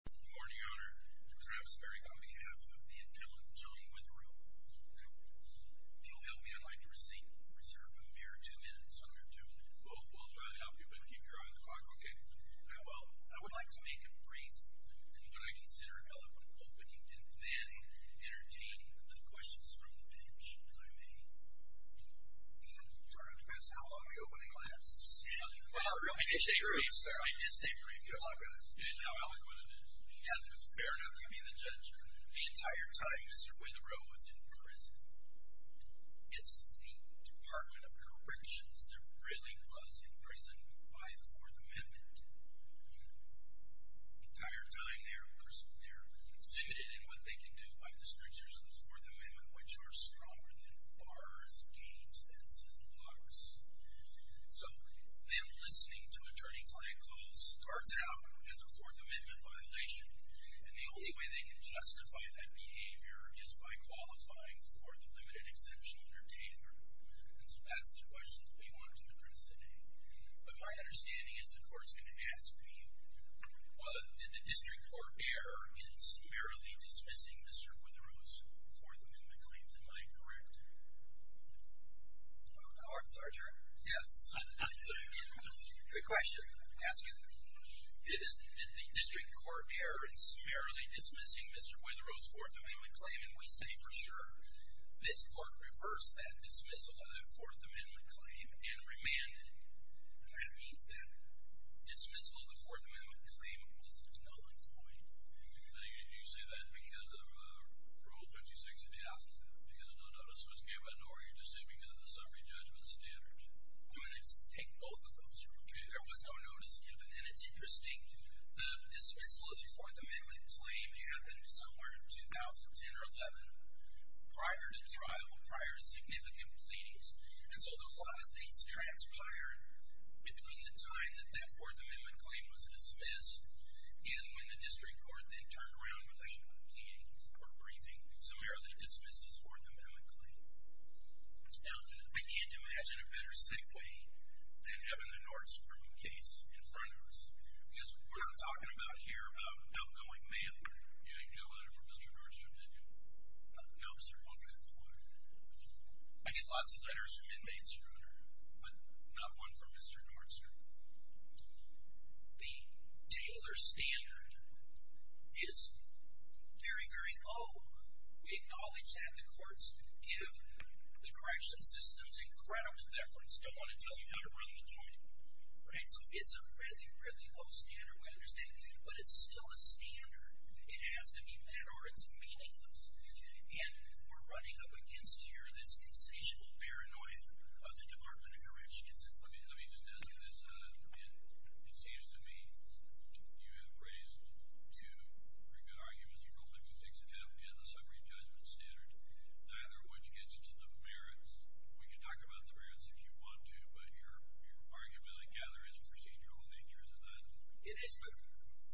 Good morning, Your Honor. I'm Travis Berry on behalf of the appellant, John Witherow. If you'll help me, I'd like to reserve a mere two minutes under duty. We'll try to help you, but keep your eye on the clock. Okay. I would like to make a brief and what I consider eloquent opening, and then entertain the questions from the bench, if I may. Your Honor, it depends how long the opening lasts. I did say brief, sir. I did say brief, Your Honor. Okay. It is now eloquent, it is. Yes, it is. Fair enough. You be the judge. The entire time, Mr. Witherow was in prison. It's the Department of Corrections that really was imprisoned by the Fourth Amendment. The entire time, they're limited in what they can do by the strictures of the Fourth Amendment, which are stronger than bars, gates, fences, locks. So them listening to attorney-client calls starts out as a Fourth Amendment violation, and the only way they can justify that behavior is by qualifying for the limited exception under Tather. And so that's the question that we want to address today. But my understanding is the court's going to ask me, did the district court err in summarily dismissing Mr. Witherow's Fourth Amendment claim tonight, correct? All right, Sergeant. Yes. Good question. Did the district court err in summarily dismissing Mr. Witherow's Fourth Amendment claim? And we say for sure. This court reversed that dismissal of the Fourth Amendment claim and remanded. And that means that dismissal of the Fourth Amendment claim was null and void. Did you say that because of Rule 56.5, because no notice was given, or you're just saying because of the summary judgment standards? I'm going to take both of those. Okay. There was no notice given. And it's interesting. The dismissal of the Fourth Amendment claim happened somewhere in 2010 or 11 prior to trial, prior to significant pleadings. And so a lot of things transpired between the time that that Fourth Amendment claim was dismissed and when the district court then turned around without pleading or briefing, summarily dismissed his Fourth Amendment claim. Now, I can't imagine a better segue than having the Nordstrom case in front of us, because we're not talking about here about outgoing mail. You didn't get a letter from Mr. Nordstrom, did you? No, sir. Okay. Good. I get lots of letters from inmates, but not one from Mr. Nordstrom. The Taylor standard is very, very low. We acknowledge that the courts give the correction systems incredible deference, don't want to tell you how to run the joint. So it's a really, really low standard, we understand. But it's still a standard. It has to be met or it's meaningless. And we're running up against here this insatiable paranoia of the Department of Corrections. Let me just ask you this. It seems to me you have raised two pretty good arguments, Rule 56F and the summary judgment standard, neither of which gets to the merits. We can talk about the merits if you want to, but your argument, I gather, is procedural in nature, isn't it? It is, but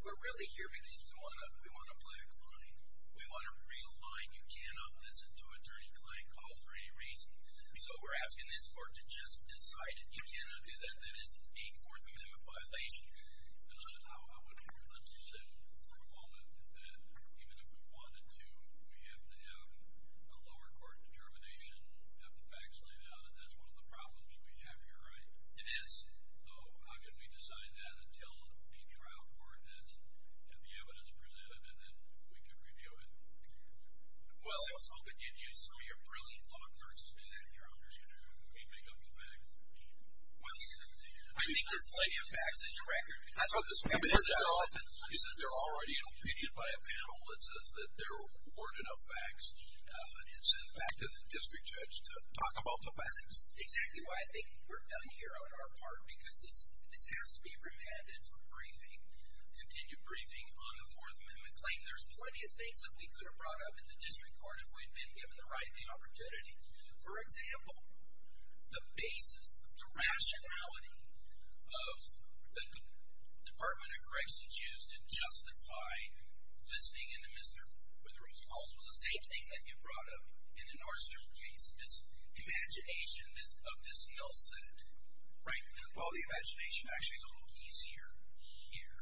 we're really here because we want to play a client. We want a real line. You cannot listen to attorney-client calls for any reason. So we're asking this court to just decide it. You cannot do that. That is a Fourth Amendment violation. Let's sit for a moment that even if we wanted to, we have to have a lower court determination, have the facts laid out, and that's one of the problems we have here, right? It is. So how can we decide that until a trial court has had the evidence presented and then we can review it? Well, I was hoping you'd use some of your brilliant law clerks to do that here. We'd make up the facts. Well, I think there's plenty of facts in your record. That's what this is all about. You said they're already in opinion by a panel. It's just that there weren't enough facts. It's back to the district judge to talk about the facts. Exactly why I think we're done here on our part, because this has to be remanded for briefing, continued briefing on the Fourth Amendment claim. There's plenty of things that we could have brought up in the district court if we'd been given the right and the opportunity. For example, the basis, the rationality of the Department of Corrections used to justify listening into Mr. Rutherford's calls was the same thing that you brought up in the Nordstrom case, this imagination of this mill set, right? Well, the imagination actually is a little easier here.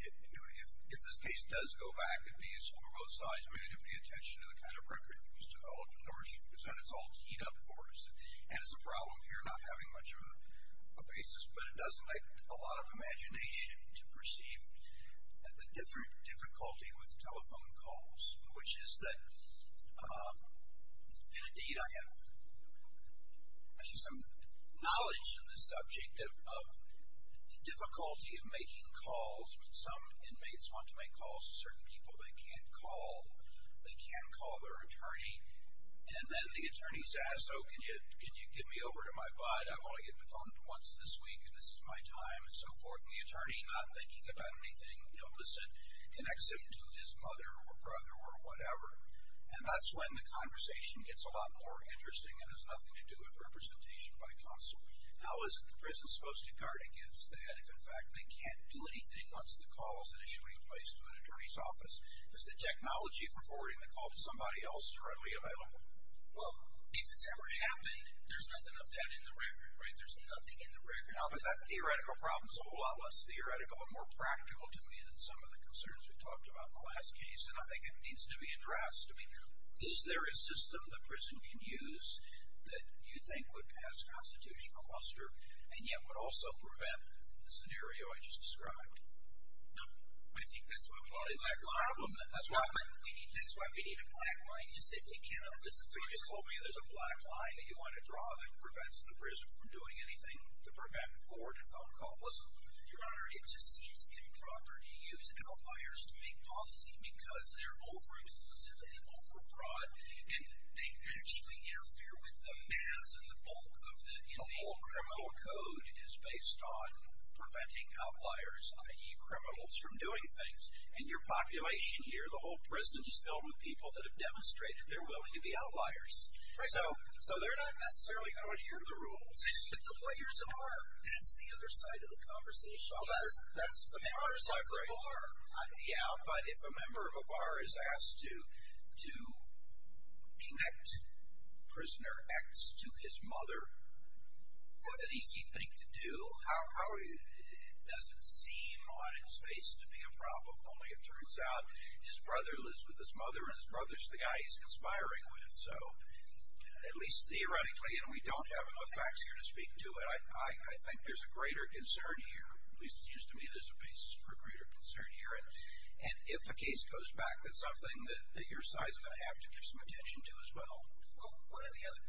If this case does go back, it'd be useful for both sides. We're going to give the attention to the kind of record that was developed in the Nordstrom case, and it's all teed up for us. And it's a problem here not having much of a basis, but it does make a lot of imagination to perceive the difficulty with telephone calls, which is that, and indeed I have some knowledge in this subject of the difficulty of making calls. Some inmates want to make calls to certain people they can't call. They can't call their attorney, and then the attorney says, oh, can you give me over to my bud? I want to get the phone once this week, and this is my time, and so forth. And the attorney, not thinking about anything illicit, connects him to his mother or brother or whatever. And that's when the conversation gets a lot more interesting and has nothing to do with representation by counsel. How is the prison supposed to guard against that if, in fact, they can't do anything once the call is in a shooting place to an attorney's office? Is the technology for forwarding the call to somebody else readily available? Well, if it's ever happened, there's nothing of that in the record, right? There's nothing in the record. Now, but that theoretical problem is a whole lot less theoretical and more practical to me than some of the concerns we talked about in the last case, and I think it needs to be addressed. I mean, is there a system the prison can use that you think would pass constitutional muster and yet would also prevent the scenario I just described? No. I think that's why we need a black line. That's why we need a black line. You simply cannot listen to it. You just told me there's a black line that you want to draw that prevents the prison from doing anything to prevent a forwarded phone call. Listen, Your Honor, it just seems improper to use outliers to make policy because they're over-explicit and over-broad, and they actually interfere with the mass and the bulk of the individual. The whole criminal code is based on preventing outliers, i.e. criminals, from doing things. In your population here, the whole prison is filled with people that have demonstrated they're willing to be outliers. Right. So they're not necessarily going to adhere to the rules. But the players are. That's the other side of the conversation. That's the members of the bar. Yeah, but if a member of a bar is asked to connect prisoner X to his mother, what's an easy thing to do? It doesn't seem on its face to be a problem, only it turns out his brother lives with his mother, and his brother's the guy he's conspiring with. So at least theoretically, and we don't have enough facts here to speak to, I think there's a greater concern here. At least it seems to me there's a basis for a greater concern here. And if a case goes back, that's something that your side's going to have to give some attention to as well.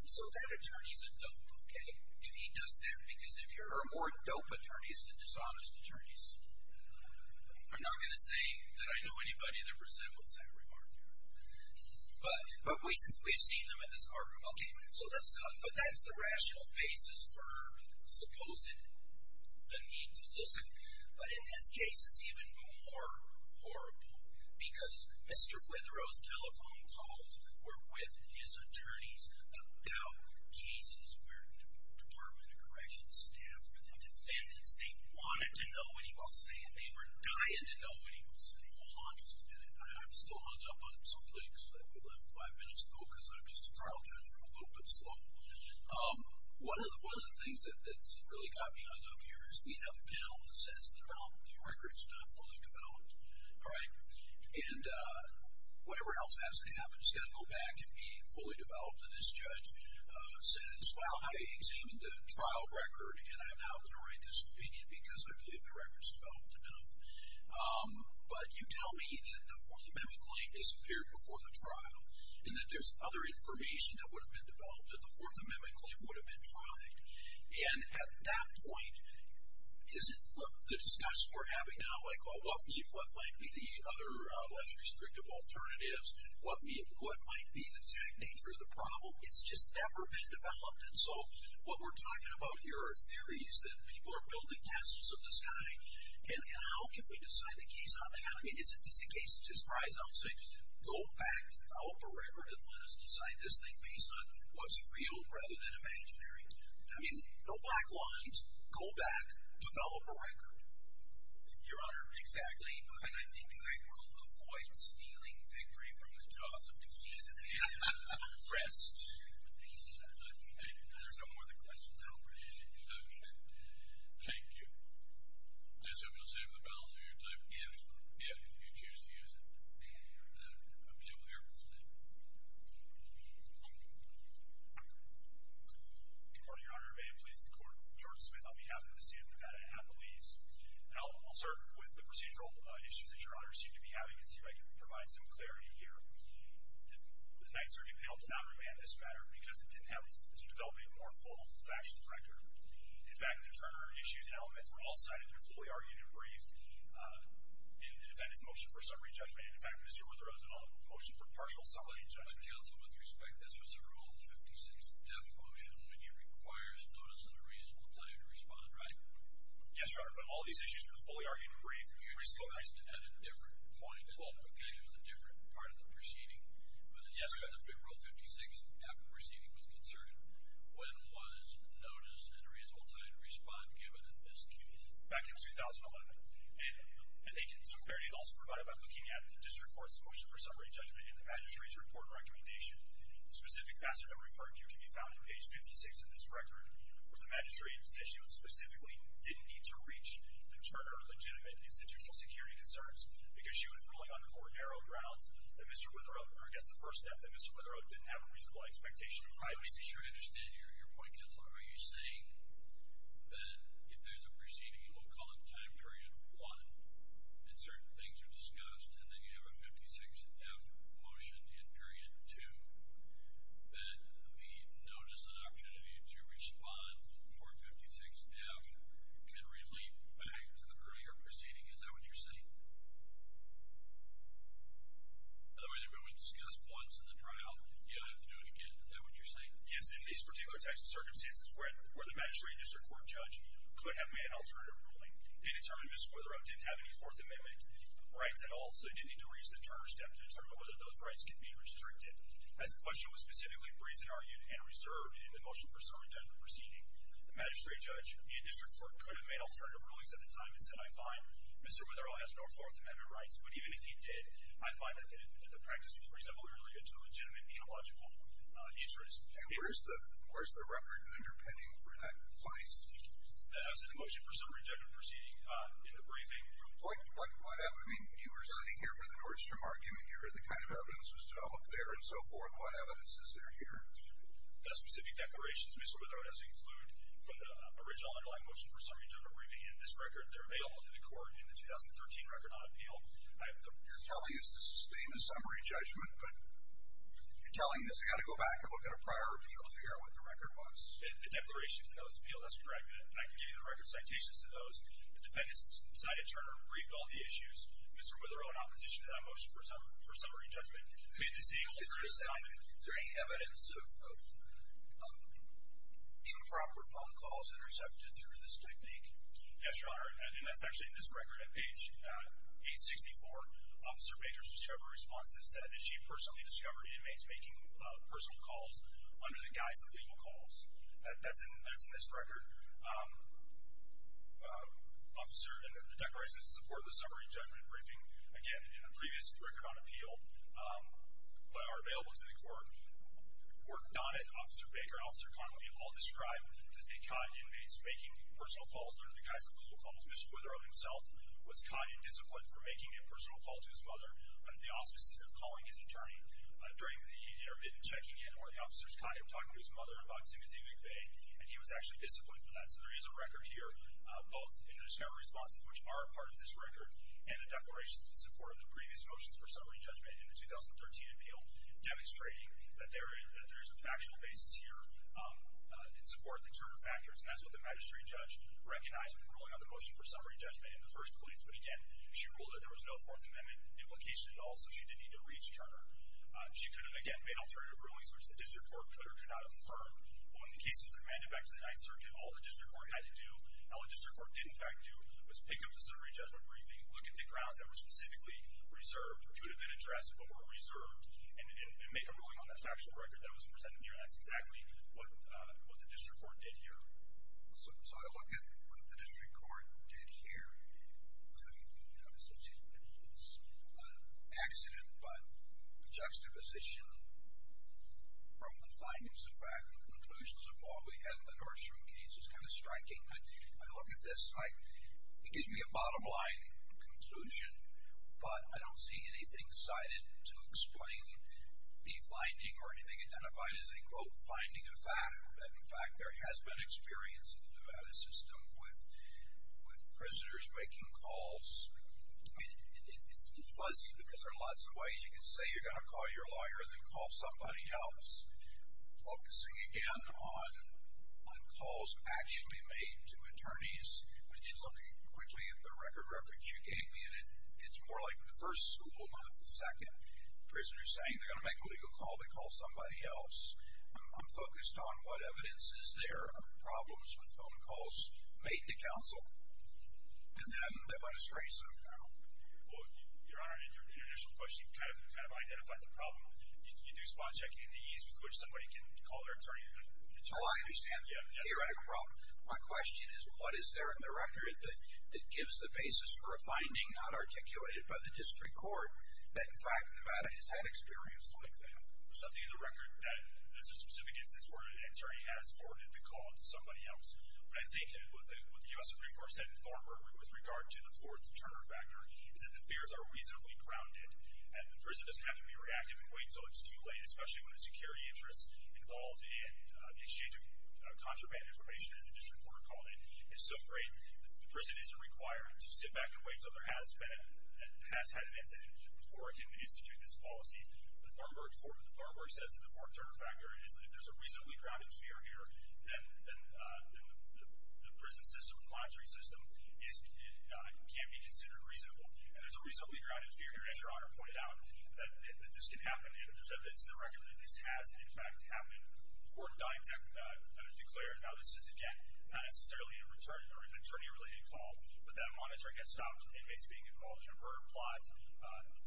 So that attorney's a dope, okay, if he does that. Because there are more dope attorneys than dishonest attorneys. I'm not going to say that I know anybody that resembles that remark. But we've seen them in this courtroom. Okay, so that's the rational basis for supposing the need to listen. But in this case, it's even more horrible. Because Mr. Witherow's telephone calls were with his attorneys about cases where the Department of Corrections staff were the defendants. They wanted to know what he was saying. They were dying to know what he was saying. Hold on just a minute. I'm still hung up on some things that we left five minutes ago, because I'm just a trial judge and I'm a little bit slow. One of the things that's really got me hung up here is we have a panel that says the record's not fully developed. And whatever else has to happen has got to go back and be fully developed. And this judge says, well, I examined the trial record, and I'm now going to write this opinion because I believe the record's developed enough. But you tell me that the Fourth Amendment claim disappeared before the trial and that there's other information that would have been developed that the Fourth Amendment claim would have been tried. And at that point, the discussion we're having now, like what might be the other less restrictive alternatives, what might be the exact nature of the problem, it's just never been developed. And so what we're talking about here are theories that people are building castles in the sky. And how can we decide the keys on that? I mean, is it just a case of surprise? I'll say, go back, develop a record, and let us decide this thing based on what's real rather than imaginary. I mean, no black lines. Go back, develop a record. Your Honor. Exactly. And I think I will avoid stealing victory from the jaws of defeat. Rest. There's no more of the questions. I'll bring it to you. Okay. Thank you. I just hope you'll save the balance of your time if you choose to use it. Okay. We'll hear from the State. Good morning, Your Honor. May it please the Court. Jordan Smith on behalf of the State of Nevada at Belize. And I'll start with the procedural issues that Your Honor seemed to be having and see if I can provide some clarity here. The Knight Survey panel did not remand this matter because it didn't help to develop a more full-fledged record. In fact, the Turner issues and elements were all cited and fully argued and briefed in the defendant's motion for summary judgment. And, in fact, Mr. Witherell's motion for partial summary judgment. Counsel, with respect, this was a Rule 56 def motion, which requires notice and a reasonable time to respond, right? Yes, Your Honor. But all these issues were fully argued and briefed. You're still asking at a different point. Okay. With a different part of the proceeding. Yes, Your Honor. As of February 56, after the proceeding was concluded, when was notice and a reasonable time to respond given in this case? Back in 2011. And I think some clarity is also provided by looking at the district court's motion for summary judgment and the magistrate's report recommendation. The specific passage I'm referring to can be found on page 56 of this record, where the magistrate says she specifically didn't need to reach the Turner legitimate institutional security concerns because she was ruling on the more narrow grounds that Mr. Witherell, or I guess the first step, that Mr. Witherell didn't have a reasonable expectation of privacy. Let me be sure I understand your point, Counselor. Are you saying that if there's a proceeding, we'll call it time period one, and certain things are discussed, and then you have a 56-F motion in period two, that the notice and opportunity to respond for 56-F can relate back to the earlier proceeding? Is that what you're saying? By the way, they were only discussed once in the trial. You don't have to do it again. Is that what you're saying? Yes. In these particular types of circumstances where the magistrate and district court judge could have made an alternative ruling, they determined Mr. Witherell didn't have any Fourth Amendment rights at all, so they didn't need to reach the Turner step to determine whether those rights could be restricted. As the question was specifically briefed and argued and reserved in the motion for summary judgment proceeding, the magistrate judge and district court could have made alternative rulings at the time and said, I find Mr. Witherell has no Fourth Amendment rights, but even if he did, I find that the practice was reasonably related to a legitimate penological interest. And where's the record underpinning for that claim? That was in the motion for summary judgment proceeding in the briefing. What evidence? You were sitting here for the Nordstrom argument. The kind of evidence was developed there and so forth. What evidence is there here? The specific declarations Mr. Witherell has included from the original underlying motion for summary judgment briefing and this record, they're available to the court in the 2013 record on appeal. You're telling us to sustain the summary judgment, but you're telling us you've got to go back and look at a prior appeal to figure out what the record was? The declarations in those appeals, that's correct. And I can give you the record citations to those. The defendants cited Turner, briefed all the issues. Mr. Witherell in opposition to that motion for summary judgment made the same alternate comment. Is there any evidence of improper phone calls that are accepted through this technique? Yes, Your Honor, and that's actually in this record at page 864. Officer Baker's discovery response has said that she personally discovered inmates making personal calls under the guise of legal calls. That's in this record. The declarations in support of the summary judgment briefing, again, in the previous record on appeal, are available to the court. Court Donnett, Officer Baker, Officer Connelly all describe that a con inmate's making personal calls under the guise of legal calls, Mr. Witherell himself, was conned and disciplined for making a personal call to his mother under the auspices of calling his attorney. During the intermittent checking in, one of the officers conned him talking to his mother about Timothy McVeigh, and he was actually disciplined for that. So there is a record here, both in the discovery responses, which are a part of this record, and the declarations in support of the previous motions for summary judgment in the 2013 appeal demonstrating that there is a factual basis here in support of the Turner factors, and that's what the magistrate judge recognized when ruling on the motion for summary judgment in the first place. But again, she ruled that there was no Fourth Amendment implication at all, so she didn't need to reach Turner. She could have, again, made alternative rulings, which the district court could or could not affirm. But when the case was remanded back to the Ninth Circuit, all the district court had to do, and what the district court did in fact do, was pick up the summary judgment briefing, look at the grounds that were specifically reserved, or could have been addressed but were reserved, and make a ruling on that factual record that was presented here, and that's exactly what the district court did here. So I look at what the district court did here, and it's an accident, but the juxtaposition from the findings, in fact, and conclusions of what we had in the Nordstrom case is kind of striking. I look at this, and it gives me a bottom line conclusion, but I don't see anything cited to explain the finding or anything identified as a, quote, finding of fact, that in fact there has been experience in the Nevada system with prisoners making calls. It's fuzzy because there are lots of ways you can say you're going to call your lawyer and then call somebody else, focusing, again, on calls actually made to attorneys. I did look quickly at the record reference you gave me, and it's more like the first school, not the second. Prisoners saying they're going to make a legal call to call somebody else. I'm focused on what evidence is there of problems with phone calls made to counsel, and then they let us trace them. Well, Your Honor, in your initial question, you kind of identified the problem. You do spot checking in the ease with which somebody can call their attorney. Well, I understand the theoretical problem. My question is what is there in the record that gives the basis for a finding not articulated by the district court that, in fact, Nevada has had experience like that? There's nothing in the record that has a specific instance where an attorney has forwarded the call to somebody else. But I think what the U.S. Supreme Court said in Thornburg with regard to the fourth Turner factor is that the fears are reasonably grounded, and the prisoner doesn't have to be reactive and wait until it's too late, especially when the security interest involved in the exchange of contraband information, as the district court called it, is so great that the prison isn't required to sit back and wait until there has had an incident before it can institute this policy. The Thornburg says that the fourth Turner factor, if there's a reasonably grounded fear here, then the prison system, the monitoring system, can be considered reasonable. And there's a reasonably grounded fear here, as Your Honor pointed out, that this can happen, and it's in the record that this has, in fact, happened or declared. Now, this is, again, not necessarily an attorney-related call, but that monitoring has stopped inmates being involved in a murder plot,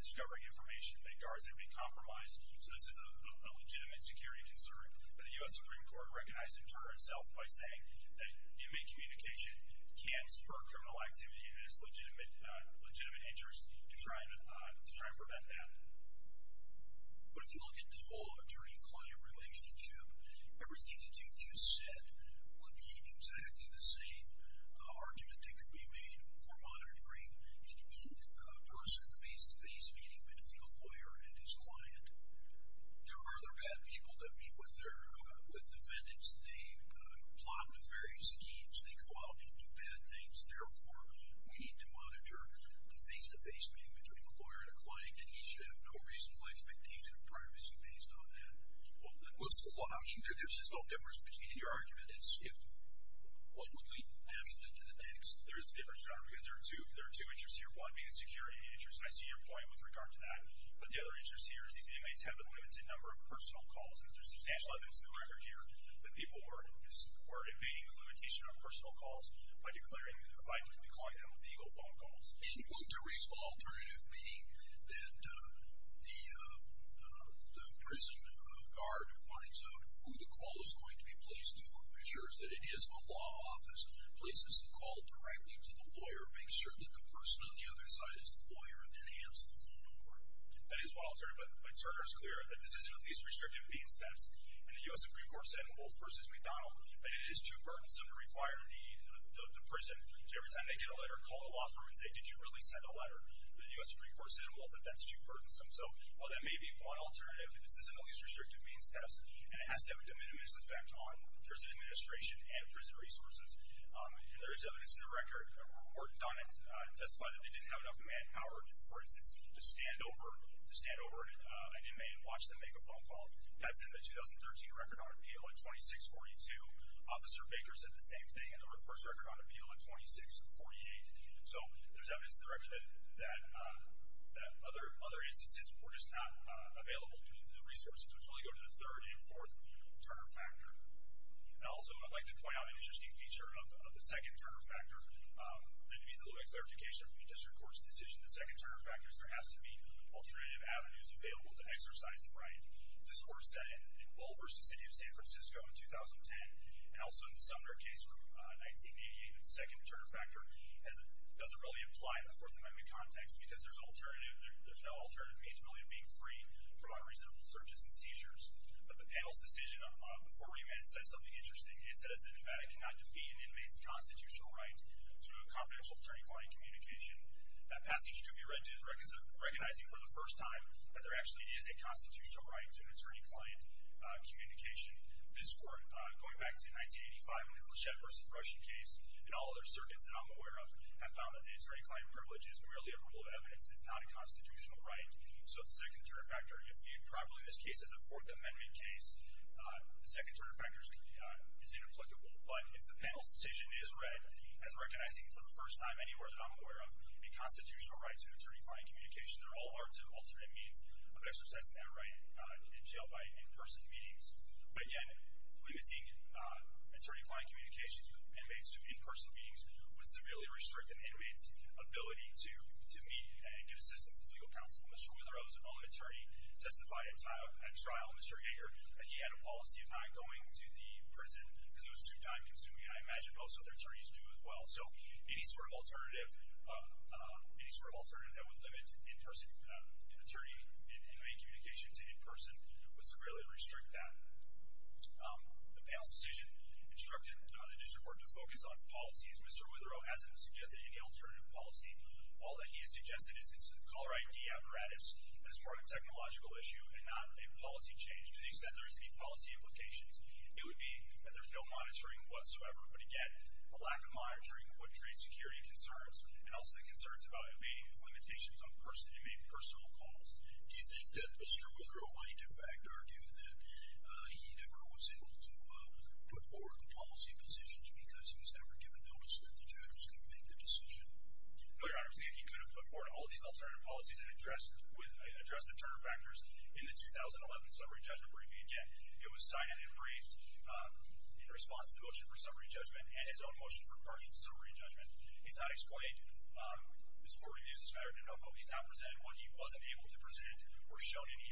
discovering information that guards an inmate compromised. So this is a legitimate security concern. But the U.S. Supreme Court recognized in Turner itself by saying that inmate communication can spur criminal activity in its legitimate interest to try and prevent that. But if you look at the whole attorney-client relationship, everything that you just said would be exactly the same argument that could be made for monitoring an inmate person face-to-face meeting between a lawyer and his client. There are other bad people that meet with defendants. They plot nefarious schemes. They go out and do bad things. Therefore, we need to monitor the face-to-face meeting between a lawyer and a client, and you should have no reasonable expectation of privacy based on that. There's just no difference between your argument. It's if one would lead absolutely to the next. There is a difference, Your Honor, because there are two interests here. One being the security interest, and I see your point with regard to that. But the other interest here is these inmates have limited number of personal calls. And there's substantial evidence in the record here that people were evading the limitation on personal calls by declaring them illegal phone calls. And wouldn't a reasonable alternative be that the prison guard finds out who the call is going to be placed to and ensures that it is a law office, places the call directly to the lawyer, makes sure that the person on the other side is the lawyer, and then hands the phone over? That is one alternative. But Turner is clear that this is the least restrictive means test. And the U.S. Supreme Court said in Wolfe v. McDonald that it is too burdensome to require the prison, every time they get a letter, call a law firm and say, did you really send a letter? The U.S. Supreme Court said in Wolfe that that's too burdensome. So while that may be one alternative, this is the least restrictive means test, and it has to have a diminished effect on prison administration and prison resources. There is evidence in the record, a report done to testify that they didn't have enough manpower, for instance, to stand over an inmate and watch them make a phone call. That's in the 2013 record on appeal in 2642. Officer Baker said the same thing in the first record on appeal in 2648. So there's evidence in the record that other instances were just not available due to the resources, which really go to the third and fourth Turner factor. And also I'd like to point out an interesting feature of the second Turner factor. That needs a little bit of clarification from the district court's decision. The second Turner factor is there has to be alternative avenues available to exercise the right. This court said in Wolfe v. City of San Francisco in 2010, and also in the Sumner case from 1988, that the second Turner factor doesn't really apply in the Fourth Amendment context because there's no alternative means really of being free from unreasonable searches and seizures. But the panel's decision before remand says something interesting. It says that Nevada cannot defeat an inmate's constitutional right through a confidential attorney-client communication. That passage could be read as recognizing for the first time that there actually is a constitutional right to an attorney-client communication. This court, going back to 1985, when the Clichet v. Rushing case, and all other circuits that I'm aware of, have found that the attorney-client privilege is merely a rule of evidence. It's not a constitutional right. So the second Turner factor, if viewed properly in this case as a Fourth Amendment case, the second Turner factor is inapplicable. But if the panel's decision is read as recognizing for the first time anywhere that I'm aware of a constitutional right to an attorney-client communication, there all are two alternate means of exercising that right in jail by in-person meetings. But again, limiting attorney-client communications with inmates to in-person meetings would severely restrict an inmate's ability to meet and get assistance at legal counsel. Mr. Witherow's own attorney testified at trial, Mr. Yeager, that he had a policy of not going to the prison because it was too time-consuming, and I imagine most other attorneys do as well. So any sort of alternative that would limit an attorney-inmate communication to in-person would severely restrict that. The panel's decision instructed the district court to focus on policies. Mr. Witherow hasn't suggested any alternative policy. All that he has suggested is it's a caller ID apparatus, and it's more of a technological issue and not a policy change, to the extent there is any policy implications. It would be that there's no monitoring whatsoever. But again, a lack of monitoring would create security concerns and also the concerns about invading of limitations on inmate personal calls. Do you think that Mr. Witherow might, in fact, argue that he never was able to put forward the policy positions because he was never given notice that the judge was going to make the decision? No, Your Honor. He could have put forward all these alternative policies and addressed the turn of factors in the 2011 summary judgment briefing. Again, it was signed and briefed in response to the motion for summary judgment and his own motion for partial summary judgment. He's not explained his court reviews this matter enough. He's not presented what he wasn't able to present or shown any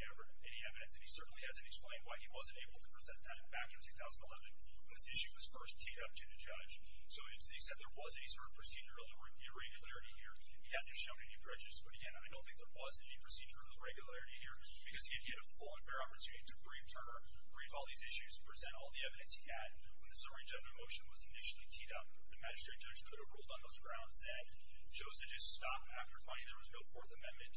evidence. And he certainly hasn't explained why he wasn't able to present that back in 2011 when this issue was first teed up to the judge. So to the extent there was any sort of procedural irregularity here, he hasn't shown any prejudice. But again, I don't think there was any procedural irregularity here because he had a full and fair opportunity to brief Turner, brief all these issues, present all the evidence he had. When the summary judgment motion was initially teed up, the magistrate judge could have ruled on those grounds that Joseph just stopped after finding there was no Fourth Amendment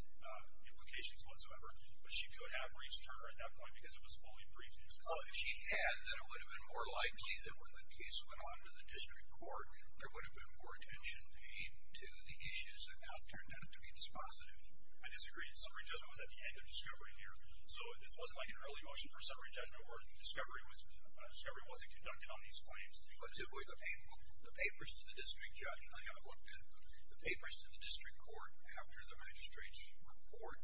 implications whatsoever. But she could have briefed Turner at that point because it was fully briefed. Oh, if she had, then it would have been more likely that when the case went on to the district court, there would have been more attention paid to the issues that now turned out to be dispositive. I disagree. Summary judgment was at the end of discovery here. So this wasn't like an early motion for summary judgment where discovery wasn't conducted on these claims. The papers to the district judge, and I haven't looked at them, the papers to the district court after the magistrate's report,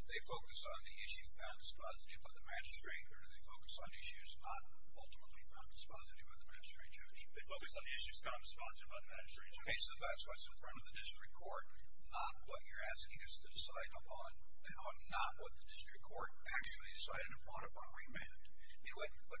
did they focus on the issue found dispositive by the magistrate or did they focus on issues not ultimately found dispositive by the magistrate judge? They focused on the issues found dispositive by the magistrate judge. Okay, so that's what's in front of the district court, not what you're asking us to decide upon, not what the district court actually decided upon upon remand. What puzzles me here is why the district court wouldn't at least invite the parties to address the issues before rendering a decision. That never happened. And it may not be necessary to reopen the record should there be an opportunity to address the issues to the district court before the district court decides if they weren't addressed before to the district court. I don't think so, Your Honor. The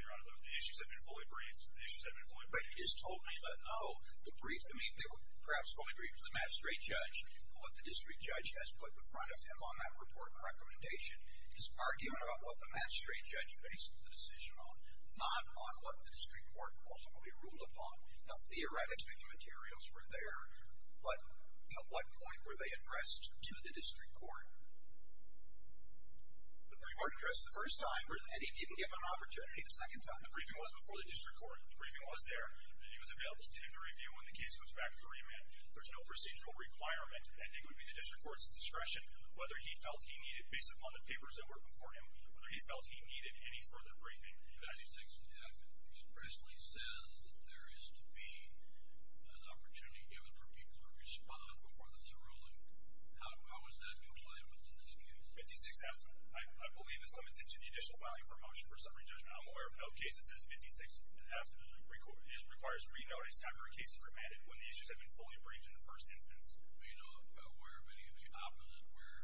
issues have been fully briefed. The issues have been fully briefed. But he just told me that, no, the brief, I mean, perhaps fully briefed to the magistrate judge, but what the district judge has put in front of him on that report and recommendation is arguing about what the magistrate judge based the decision on, not on what the district court ultimately ruled upon. Now, theoretically, the materials were there, but at what point were they addressed to the district court? The brief weren't addressed the first time, and he didn't give an opportunity the second time. The briefing was before the district court. The briefing was there. He was available to him to review when the case was back to remand. There's no procedural requirement. I think it would be the district court's discretion whether he felt he needed, based upon the papers that were before him, whether he felt he needed any further briefing. 56F expressly says that there is to be an opportunity given for people to respond before there's a ruling. How is that complied with in this case? 56F, I believe, is limited to the additional filing for a motion for summary judgment. I'm aware of no case that says 56F requires re-notice after a case is remanded when the issues have been fully briefed in the first instance. Are you not aware of any of the opposite where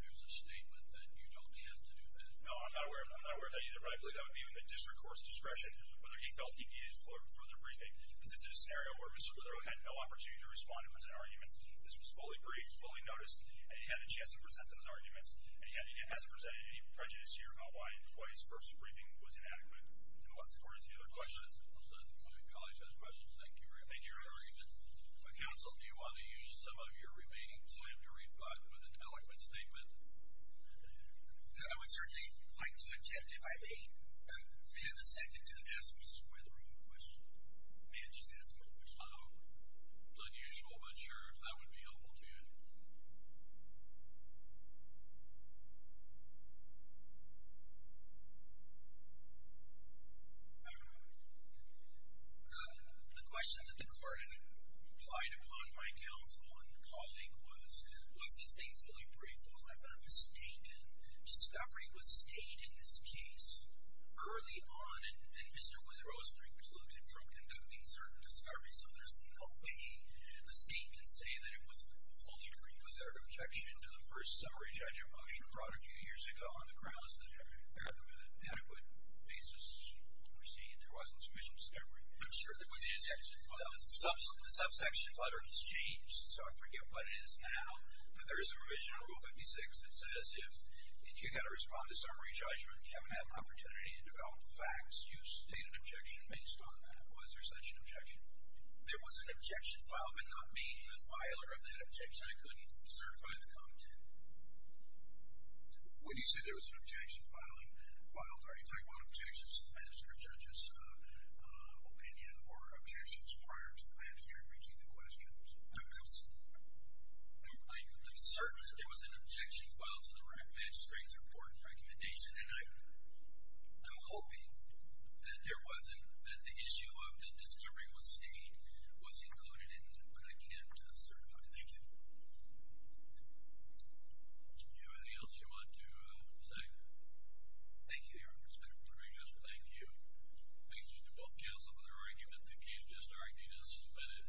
there's a statement that you don't have to do that? No, I'm not aware of that either, but I believe that would be in the district court's discretion whether he felt he needed further briefing. This is a scenario where Mr. Witherell had no opportunity to respond to present arguments. This was fully briefed, fully noticed, and he had a chance to present those arguments, and yet he hasn't presented any prejudice here about why his first briefing was inadequate. Unless the court has any other questions. My colleague has questions. Thank you very much. Thank you for your argument. Counsel, do you want to use some of your remaining time to reply with an eloquent statement? I would certainly like to attempt, if I may. Do we have a second to ask Mr. Witherell a question? May I just ask him a question? Unusual, but sure, if that would be helpful to you. The question that the court had applied upon my counsel and colleague was, was this thing fully briefed? Was there a mistake in discovery? Was state in this case early on, and Mr. Witherell was precluded from conducting certain discoveries, so there's no way the state can say that it was fully briefed. Was there an objection to the first summary judgment motion brought a few years ago on the grounds that there was an inadequate basis to proceed, there wasn't sufficient discovery? The subsection letter has changed, so I forget what it is now, but there is a provision in Rule 56 that says if you've got to respond to summary judgment and you haven't had an opportunity to develop facts, you state an objection based on that. Was there such an objection? There was an objection filed, but not being a filer of that objection, I couldn't certify the content. When you say there was an objection filed, are you talking about objections to the magistrate judge's opinion or objections prior to the magistrate reaching the questions? I'm certain that there was an objection filed to the magistrate's important recommendation, and I'm hoping that there wasn't, that the issue of the discovery was stated, was included in that, but I can't certify it. Thank you. Is there anything else you want to say? Thank you, Your Honor. Thank you. Thank you to both counsel for their argument. The case just argued is submitted.